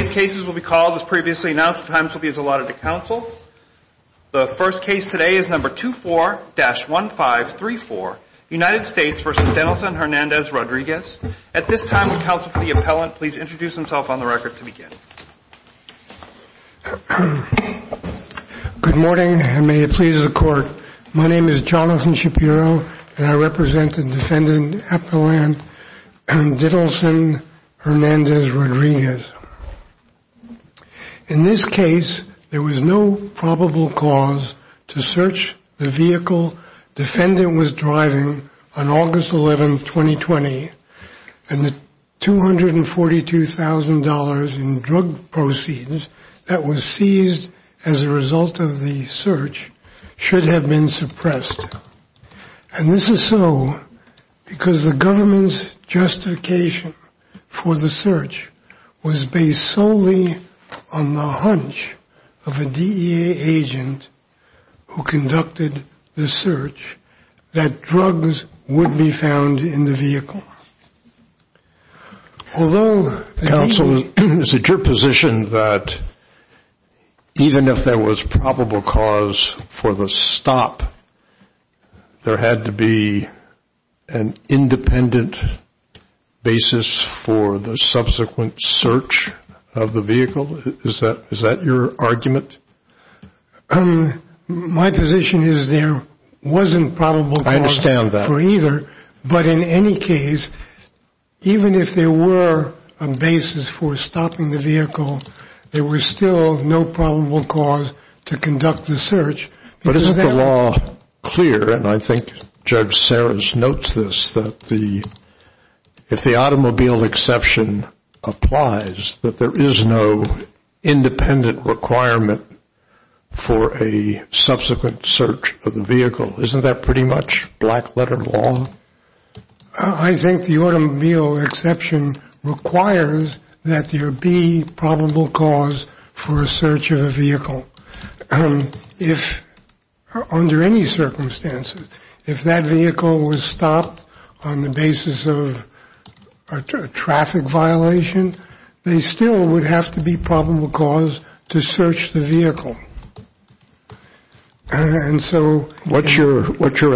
at this time will counsel for the appellant please introduce himself on the record to begin. Good morning and may it please the court. My name is Jonathan Shapiro and I represent the defendant appellant Dittleson Hernandez-Rodriguez. In this case there was no probable cause to search the vehicle defendant was driving on August 11, 2020 and the $242,000 in drug proceeds that was seized as a result of the search should have been suppressed. And this is so because the government's justification for the search was based solely on the hunch of a DEA agent who conducted the search that drugs would be found in the vehicle. Counsel is it your position that even if there was probable cause for the stop there had to be an independent basis for the subsequent search of the vehicle? Is that your argument? My position is there wasn't probable cause for either but in any case even if there were a basis for stopping the vehicle there was still no probable cause to conduct the search. But isn't the law clear and I think Judge Sarris notes this that if the automobile exception applies that there is no independent requirement for a subsequent search of the vehicle. Isn't that pretty much black letter law? I think the automobile exception requires that there be probable cause for a search of a vehicle. If under any circumstances if that vehicle was stopped on the basis of a traffic violation they still would have to be probable cause to search the vehicle. What's your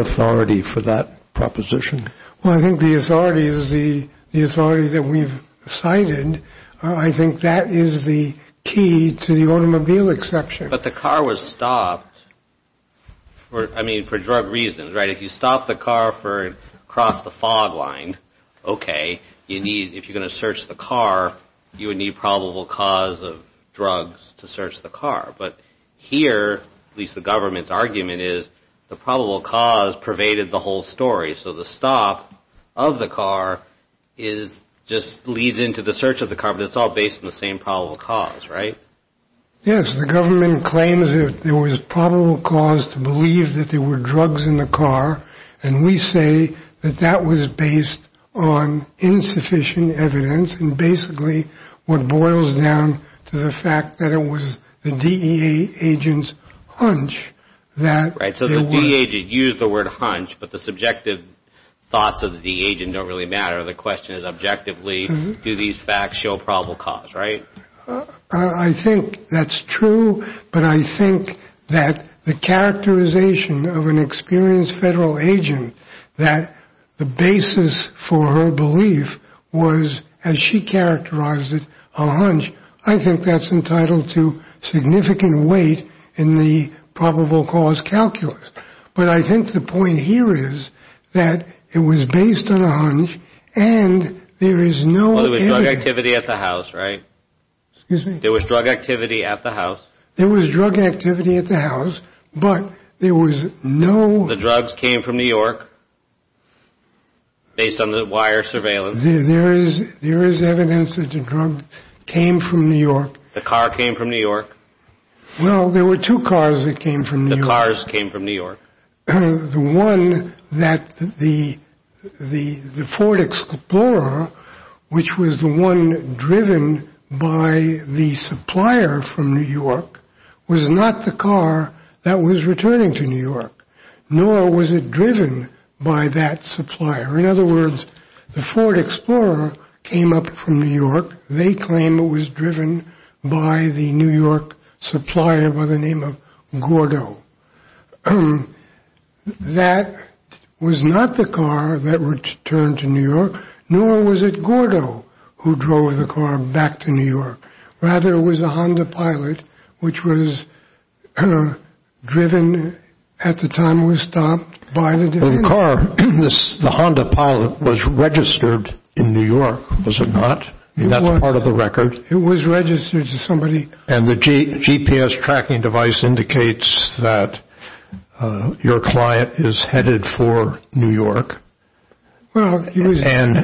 authority for that proposition? Well I think the authority is the authority that we've cited. I think that is the key to the automobile exception. But the car was stopped I mean for drug reasons right if you stop the car for cross the fog line okay you need if you're going to search the car you would need probable cause of drugs to search the car. But here at least the government's argument is the probable cause pervaded the whole story so the stop of the car is just leads into the search of the car but it's all based on the same probable cause right? Yes the government claims that there was probable cause to believe that there were drugs in the car and we say that that was based on insufficient evidence and basically what boils down to the fact that it was the DEA agent's hunch. Right so the DEA agent used the word hunch but the subjective thoughts of the DEA agent don't really matter the question is objectively do these facts show probable cause right? I think that's true but I think that the characterization of an experienced federal agent that the basis for her belief was as she characterized it a hunch I think that's entitled to significant weight in the probable cause calculus. But I think the point here is that it was based on a hunch and there is no evidence. There was drug activity at the house right? Excuse me? There was drug activity at the house. There was drug activity at the house but there was no. The drugs came from New York based on the wire surveillance. There is evidence that the drug came from New York. The car came from New York. Well there were two cars that came from New York. The cars came from New York. The one that the Ford Explorer which was the one driven by the supplier from New York was not the car that was returning to New York nor was it driven by that supplier. In other words the Ford Explorer came up from New York. They claim it was driven by the New York supplier by the name of Gordo. That was not the car that returned to New York nor was it Gordo who drove the car back to New York. Rather it was a Honda Pilot which was driven at the time it was stopped by the DEA. The car, the Honda Pilot was registered in New York was it not? That's part of the record. It was registered to somebody. And the GPS tracking device indicates that your client is headed for New York. Well he was on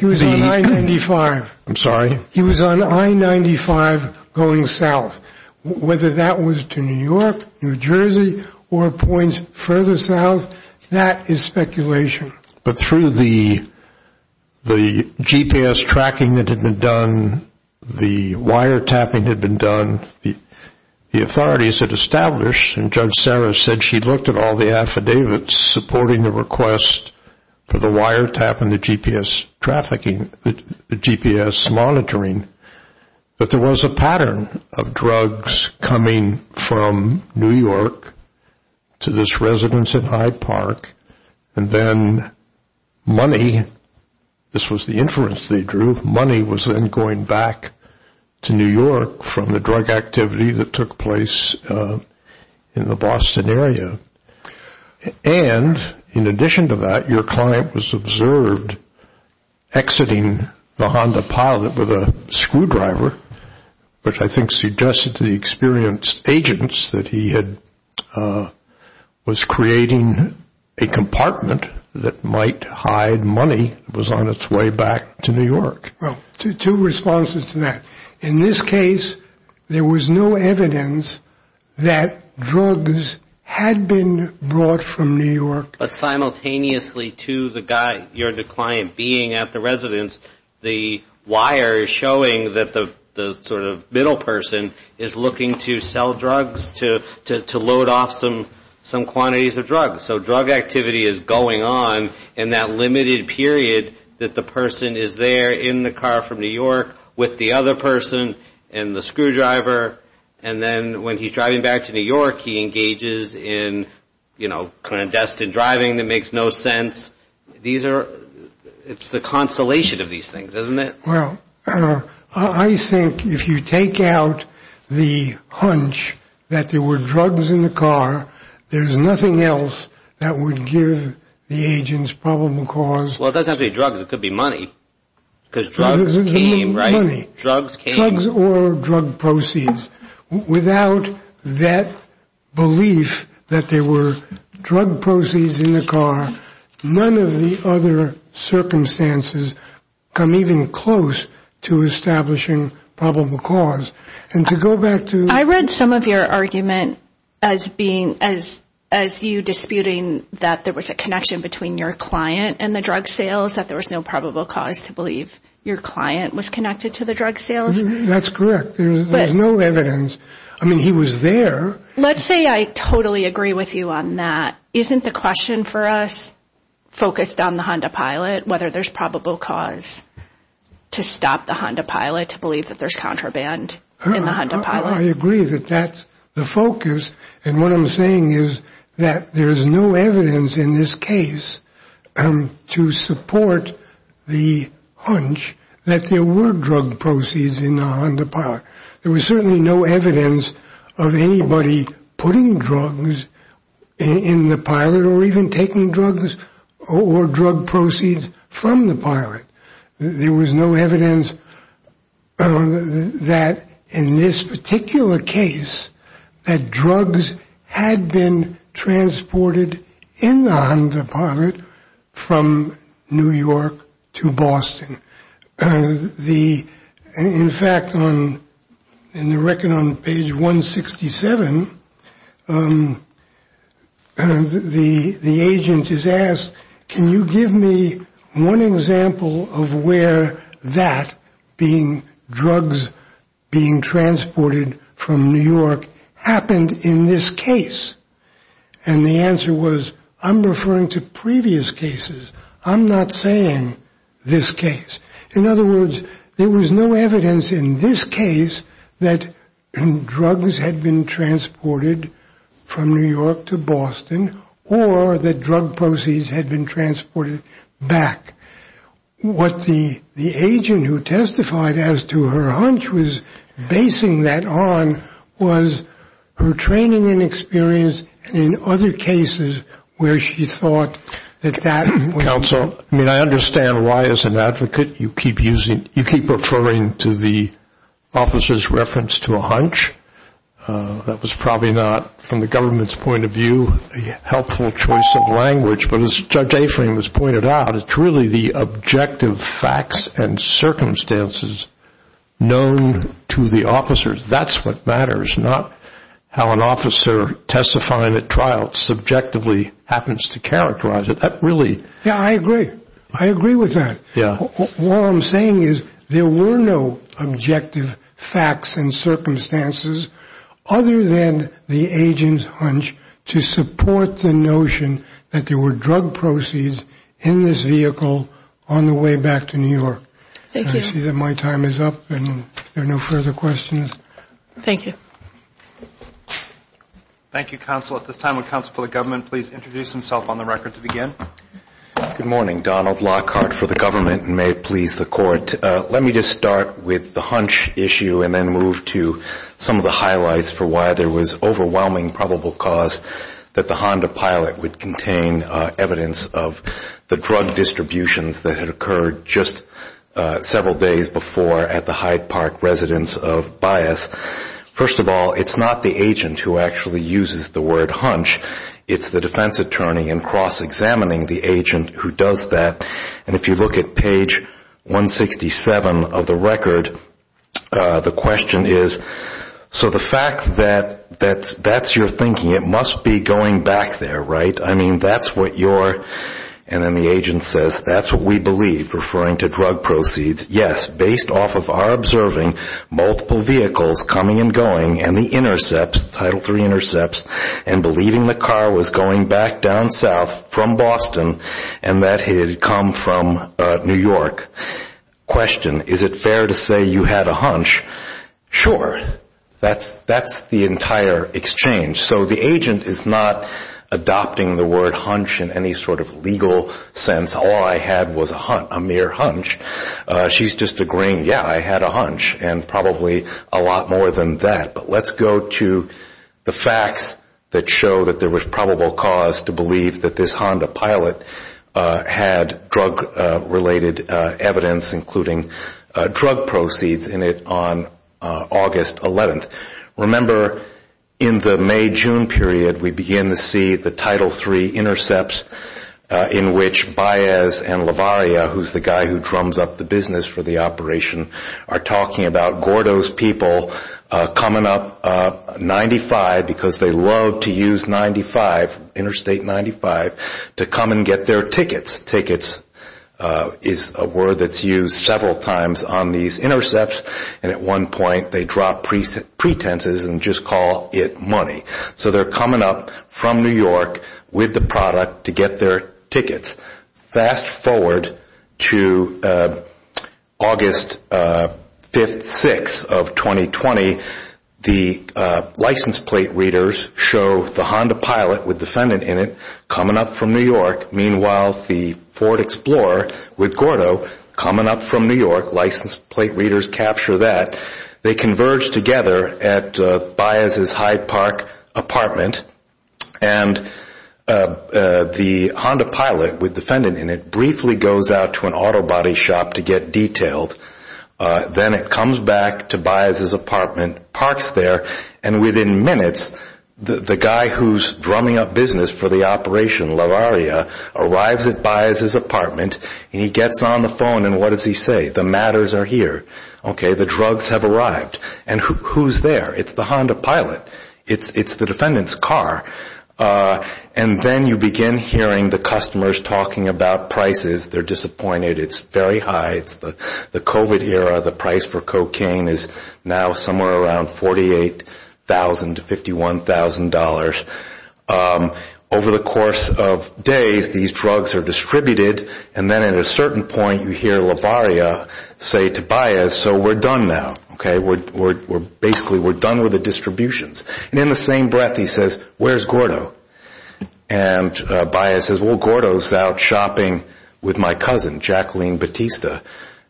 I-95. I'm sorry? He was on I-95 going south. Whether that was to New York, New Jersey or points further south, that is speculation. But through the GPS tracking that had been done, the wiretapping had been done, the authorities had established and Judge Sarah said she looked at all the affidavits supporting the request for the wiretap and the GPS trafficking, the GPS monitoring, that there was a pattern of drugs coming from New York to this residence at Hyde Park and then money, this was the inference they drew, money was then going back to New York from the drug activity that took place in the Boston area. And in addition to that, your client was observed exiting the Honda Pilot with a screwdriver, which I think suggested to the experienced agents that he was creating a compartment that might hide money that was on its way back to New York. Well, two responses to that. In this case, there was no evidence that drugs had been brought from New York. But simultaneously to the guy, your client, being at the residence, the wire is showing that the sort of middle person is looking to sell drugs to load off some quantities of drugs. So drug activity is going on in that limited period that the person is there in the car from New York with the other person and the screwdriver. And then when he's driving back to New York, he engages in, you know, clandestine driving that makes no sense. These are, it's the constellation of these things, isn't it? Well, I think if you take out the hunch that there were drugs in the car, there's nothing else that would give the agents probable cause. Well, it doesn't have to be drugs. It could be money because drugs came, right? Come even close to establishing probable cause and to go back to. I read some of your argument as being as as you disputing that there was a connection between your client and the drug sales, that there was no probable cause to believe your client was connected to the drug sales. That's correct. But no evidence. I mean, he was there. Let's say I totally agree with you on that. Isn't the question for us focused on the Honda Pilot, whether there's probable cause to stop the Honda Pilot to believe that there's contraband in the Honda Pilot? I agree that that's the focus. And what I'm saying is that there is no evidence in this case to support the hunch that there were drug proceeds in the Honda Pilot. There was certainly no evidence of anybody putting drugs in the pilot or even taking drugs or drug proceeds from the pilot. There was no evidence that in this particular case that drugs had been transported in the Honda Pilot from New York to Boston. The in fact, on the record on page 167, the the agent is asked, can you give me one example of where that being drugs being transported from New York happened in this case? And the answer was, I'm referring to previous cases. I'm not saying this case. In other words, there was no evidence in this case that drugs had been transported from New York to Boston or that drug proceeds had been transported back. What the agent who testified as to her hunch was basing that on was her training and experience in other cases where she thought that that. Counsel, I mean, I understand why as an advocate you keep using you keep referring to the officer's reference to a hunch. That was probably not, from the government's point of view, a helpful choice of language. But as Judge Aframe has pointed out, it's really the objective facts and circumstances known to the officers. That's what matters, not how an officer testifying at trial subjectively happens to characterize it. That really. Yeah, I agree. I agree with that. Yeah. What I'm saying is there were no objective facts and circumstances other than the agent's hunch to support the notion that there were drug proceeds in this vehicle on the way back to New York. Thank you. I see that my time is up and there are no further questions. Thank you. Thank you, Counsel. At this time, would Counsel for the Government please introduce himself on the record to begin? Good morning. Donald Lockhart for the government and may it please the Court. Let me just start with the hunch issue and then move to some of the highlights for why there was overwhelming probable cause that the Honda Pilot would contain evidence of the drug distributions that had occurred just several days before at the Hyde Park residence of Bias. First of all, it's not the agent who actually uses the word hunch. It's the defense attorney in cross-examining the agent who does that. And if you look at page 167 of the record, the question is, so the fact that that's your thinking, it must be going back there, right? I mean, that's what your, and then the agent says, that's what we believe, referring to drug proceeds. Yes, based off of our observing multiple vehicles coming and going and the intercepts, Title III intercepts, and believing the car was going back down south from Boston and that it had come from New York. Question, is it fair to say you had a hunch? Sure. That's the entire exchange. So the agent is not adopting the word hunch in any sort of legal sense. All I had was a mere hunch. She's just agreeing, yeah, I had a hunch, and probably a lot more than that. But let's go to the facts that show that there was probable cause to believe that this Honda Pilot had drug-related evidence, including drug proceeds in it on August 11th. Remember, in the May-June period, we begin to see the Title III intercepts in which Baez and LaVaria, who's the guy who drums up the business for the operation, are talking about Gordo's people coming up 95, because they love to use 95, Interstate 95, to come and get their tickets. Tickets is a word that's used several times on these intercepts, and at one point they drop pretenses and just call it money. So they're coming up from New York with the product to get their tickets. Fast forward to August 5th, 6th of 2020, the license plate readers show the Honda Pilot with defendant in it coming up from New York. Meanwhile, the Ford Explorer with Gordo coming up from New York, license plate readers capture that. They converge together at Baez's Hyde Park apartment, and the Honda Pilot with defendant in it briefly goes out to an auto body shop to get detailed. Then it comes back to Baez's apartment, parks there, and within minutes, the guy who's drumming up business for the operation, LaVaria, arrives at Baez's apartment, and he gets on the phone, and what does he say? The matters are here. Okay, the drugs have arrived, and who's there? It's the Honda Pilot. It's the defendant's car. And then you begin hearing the customers talking about prices. They're disappointed. It's very high. It's the COVID era. The price for cocaine is now somewhere around $48,000 to $51,000. Over the course of days, these drugs are distributed, and then at a certain point, you hear LaVaria say to Baez, so we're done now. Basically, we're done with the distributions. And in the same breath, he says, where's Gordo? And Baez says, well, Gordo's out shopping with my cousin, Jacqueline Batista,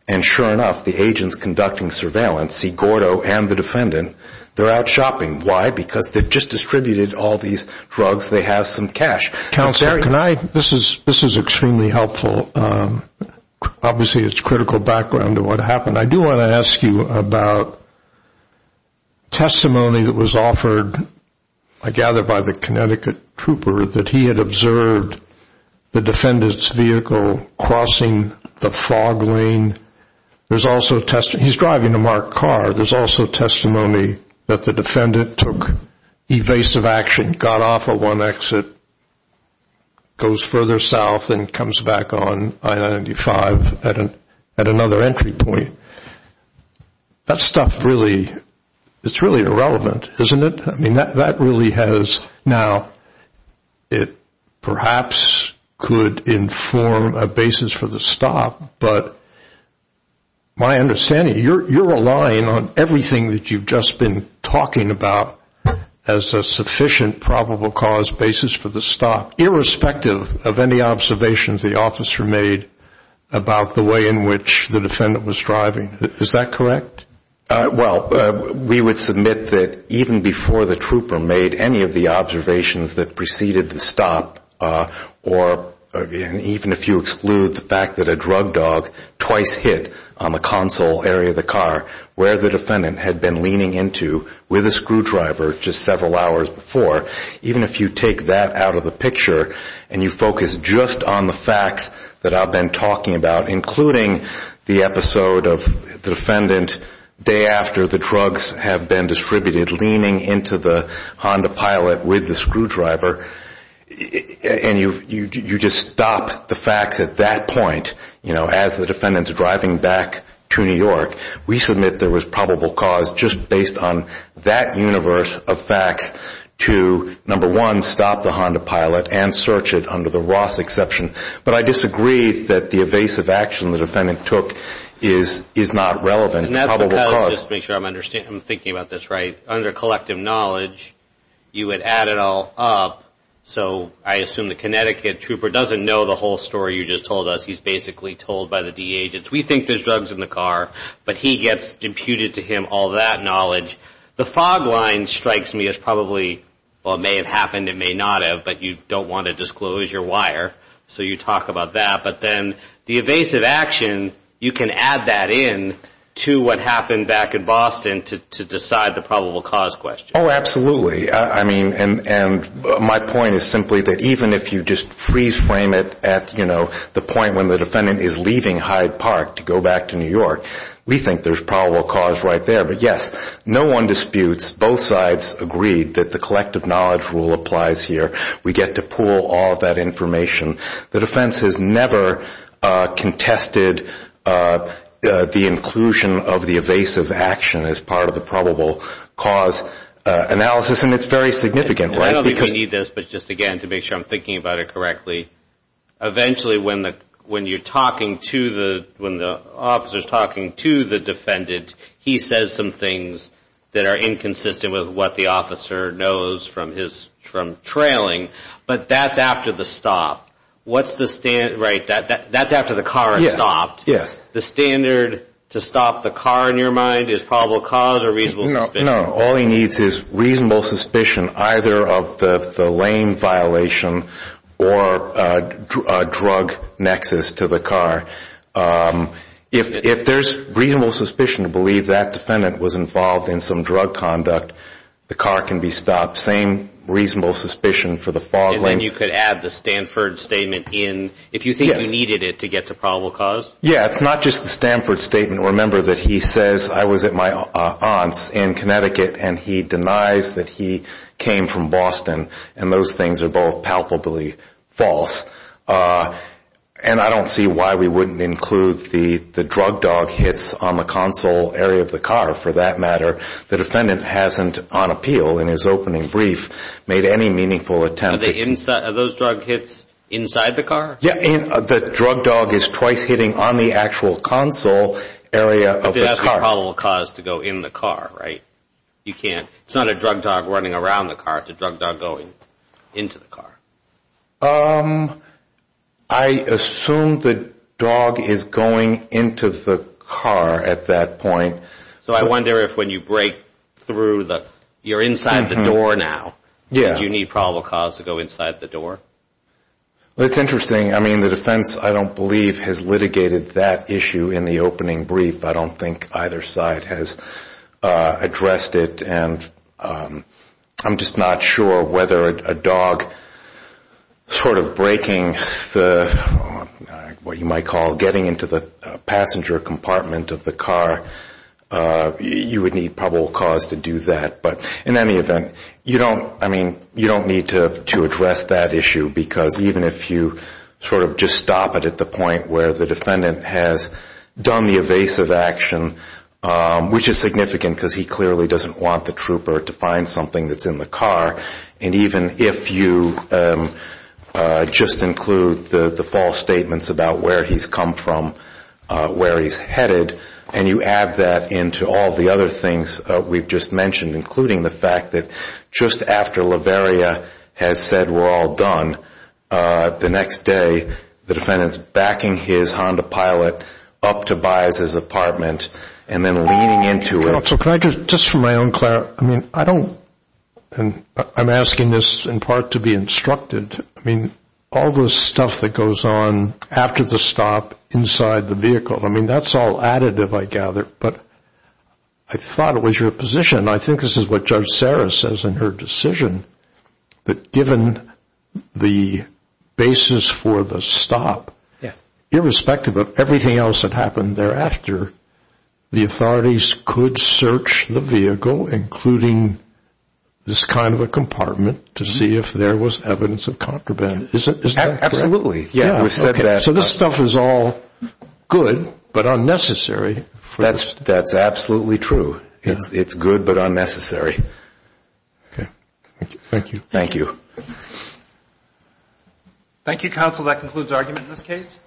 and sure enough, the agents conducting surveillance see Gordo and the defendant. They're out shopping. Why? Because they've just distributed all these drugs. They have some cash. This is extremely helpful. Obviously, it's critical background to what happened. I do want to ask you about testimony that was offered, I gather, by the Connecticut trooper, that he had observed the defendant's vehicle crossing the fog lane. He's driving a marked car. There's also testimony that the defendant took evasive action, got off at one exit, goes further south and comes back on I-95 at another entry point. That stuff really, it's really irrelevant, isn't it? I mean, that really has now, it perhaps could inform a basis for the stop, but my understanding, you're relying on everything that you've just been talking about as a sufficient probable cause basis for the stop, irrespective of any observations the officer made about the way in which the defendant was driving. Is that correct? Well, we would submit that even before the trooper made any of the observations that preceded the stop, or even if you exclude the fact that a drug dog twice hit on the console area of the car, where the defendant had been leaning into with a screwdriver just several hours before, even if you take that out of the picture and you focus just on the facts that I've been talking about, including the episode of the defendant day after the drugs have been distributed, leaning into the Honda Pilot with the screwdriver, and you just stop the facts at that point, you know, as the defendant's driving back to New York, we submit there was probable cause just based on that universe of facts to, number one, stop the Honda Pilot and search it under the Ross exception. But I disagree that the evasive action the defendant took is not relevant to probable cause. Let's just make sure I'm thinking about this right. Under collective knowledge, you would add it all up. So I assume the Connecticut trooper doesn't know the whole story you just told us. He's basically told by the DA. We think there's drugs in the car, but he gets imputed to him all that knowledge. The fog line strikes me as probably, well, it may have happened, it may not have, but you don't want to disclose your wire, so you talk about that. But then the evasive action, you can add that in to what happened back in Boston to decide the probable cause question. Oh, absolutely. I mean, and my point is simply that even if you just freeze frame it at, you know, the point when the defendant is leaving Hyde Park to go back to New York, we think there's probable cause right there. But, yes, no one disputes. Both sides agreed that the collective knowledge rule applies here. We get to pool all of that information. The defense has never contested the inclusion of the evasive action as part of the probable cause analysis, and it's very significant. I don't think we need this, but just again, to make sure I'm thinking about it correctly, eventually when the officer is talking to the defendant, he says some things that are inconsistent with what the officer knows from trailing, but that's after the stop. That's after the car is stopped. The standard to stop the car in your mind is probable cause or reasonable suspicion? No. All he needs is reasonable suspicion either of the lane violation or drug nexus to the car. If there's reasonable suspicion to believe that defendant was involved in some drug conduct, the car can be stopped. Same reasonable suspicion for the fog lane. And then you could add the Stanford statement in if you think he needed it to get to probable cause? Yes. It's not just the Stanford statement. Remember that he says, I was at my aunt's in Connecticut, and he denies that he came from Boston, and those things are both palpably false. And I don't see why we wouldn't include the drug dog hits on the console area of the car for that matter. The defendant hasn't on appeal in his opening brief made any meaningful attempt. Are those drug hits inside the car? Yes. The drug dog is twice hitting on the actual console area of the car. But that's probable cause to go in the car, right? You can't. It's not a drug dog running around the car. It's a drug dog going into the car. I assume the dog is going into the car at that point. So I wonder if when you break through, you're inside the door now. Yeah. Do you need probable cause to go inside the door? That's interesting. I mean, the defense, I don't believe, has litigated that issue in the opening brief. I don't think either side has addressed it. And I'm just not sure whether a dog sort of breaking the, what you might call, getting into the passenger compartment of the car, you would need probable cause to do that. But in any event, you don't need to address that issue because even if you sort of just stop it at the point where the defendant has done the evasive action, which is significant because he clearly doesn't want the trooper to find something that's in the car, and even if you just include the false statements about where he's come from, where he's headed, and you add that into all the other things we've just mentioned, including the fact that just after Laveria has said we're all done, the next day the defendant's backing his Honda Pilot up to Bias's apartment and then leaning into it. So can I just, just for my own clarity, I mean, I don't, and I'm asking this in part to be instructed. I mean, all the stuff that goes on after the stop inside the vehicle, I mean, that's all additive, I gather. But I thought it was your position, and I think this is what Judge Sarah says in her decision, that given the basis for the stop, irrespective of everything else that happened thereafter, the authorities could search the vehicle, including this kind of a compartment, to see if there was evidence of contraband. Is that correct? So this stuff is all good, but unnecessary. That's absolutely true. It's good, but unnecessary. Okay. Thank you. Thank you. Thank you, counsel. That concludes argument in this case.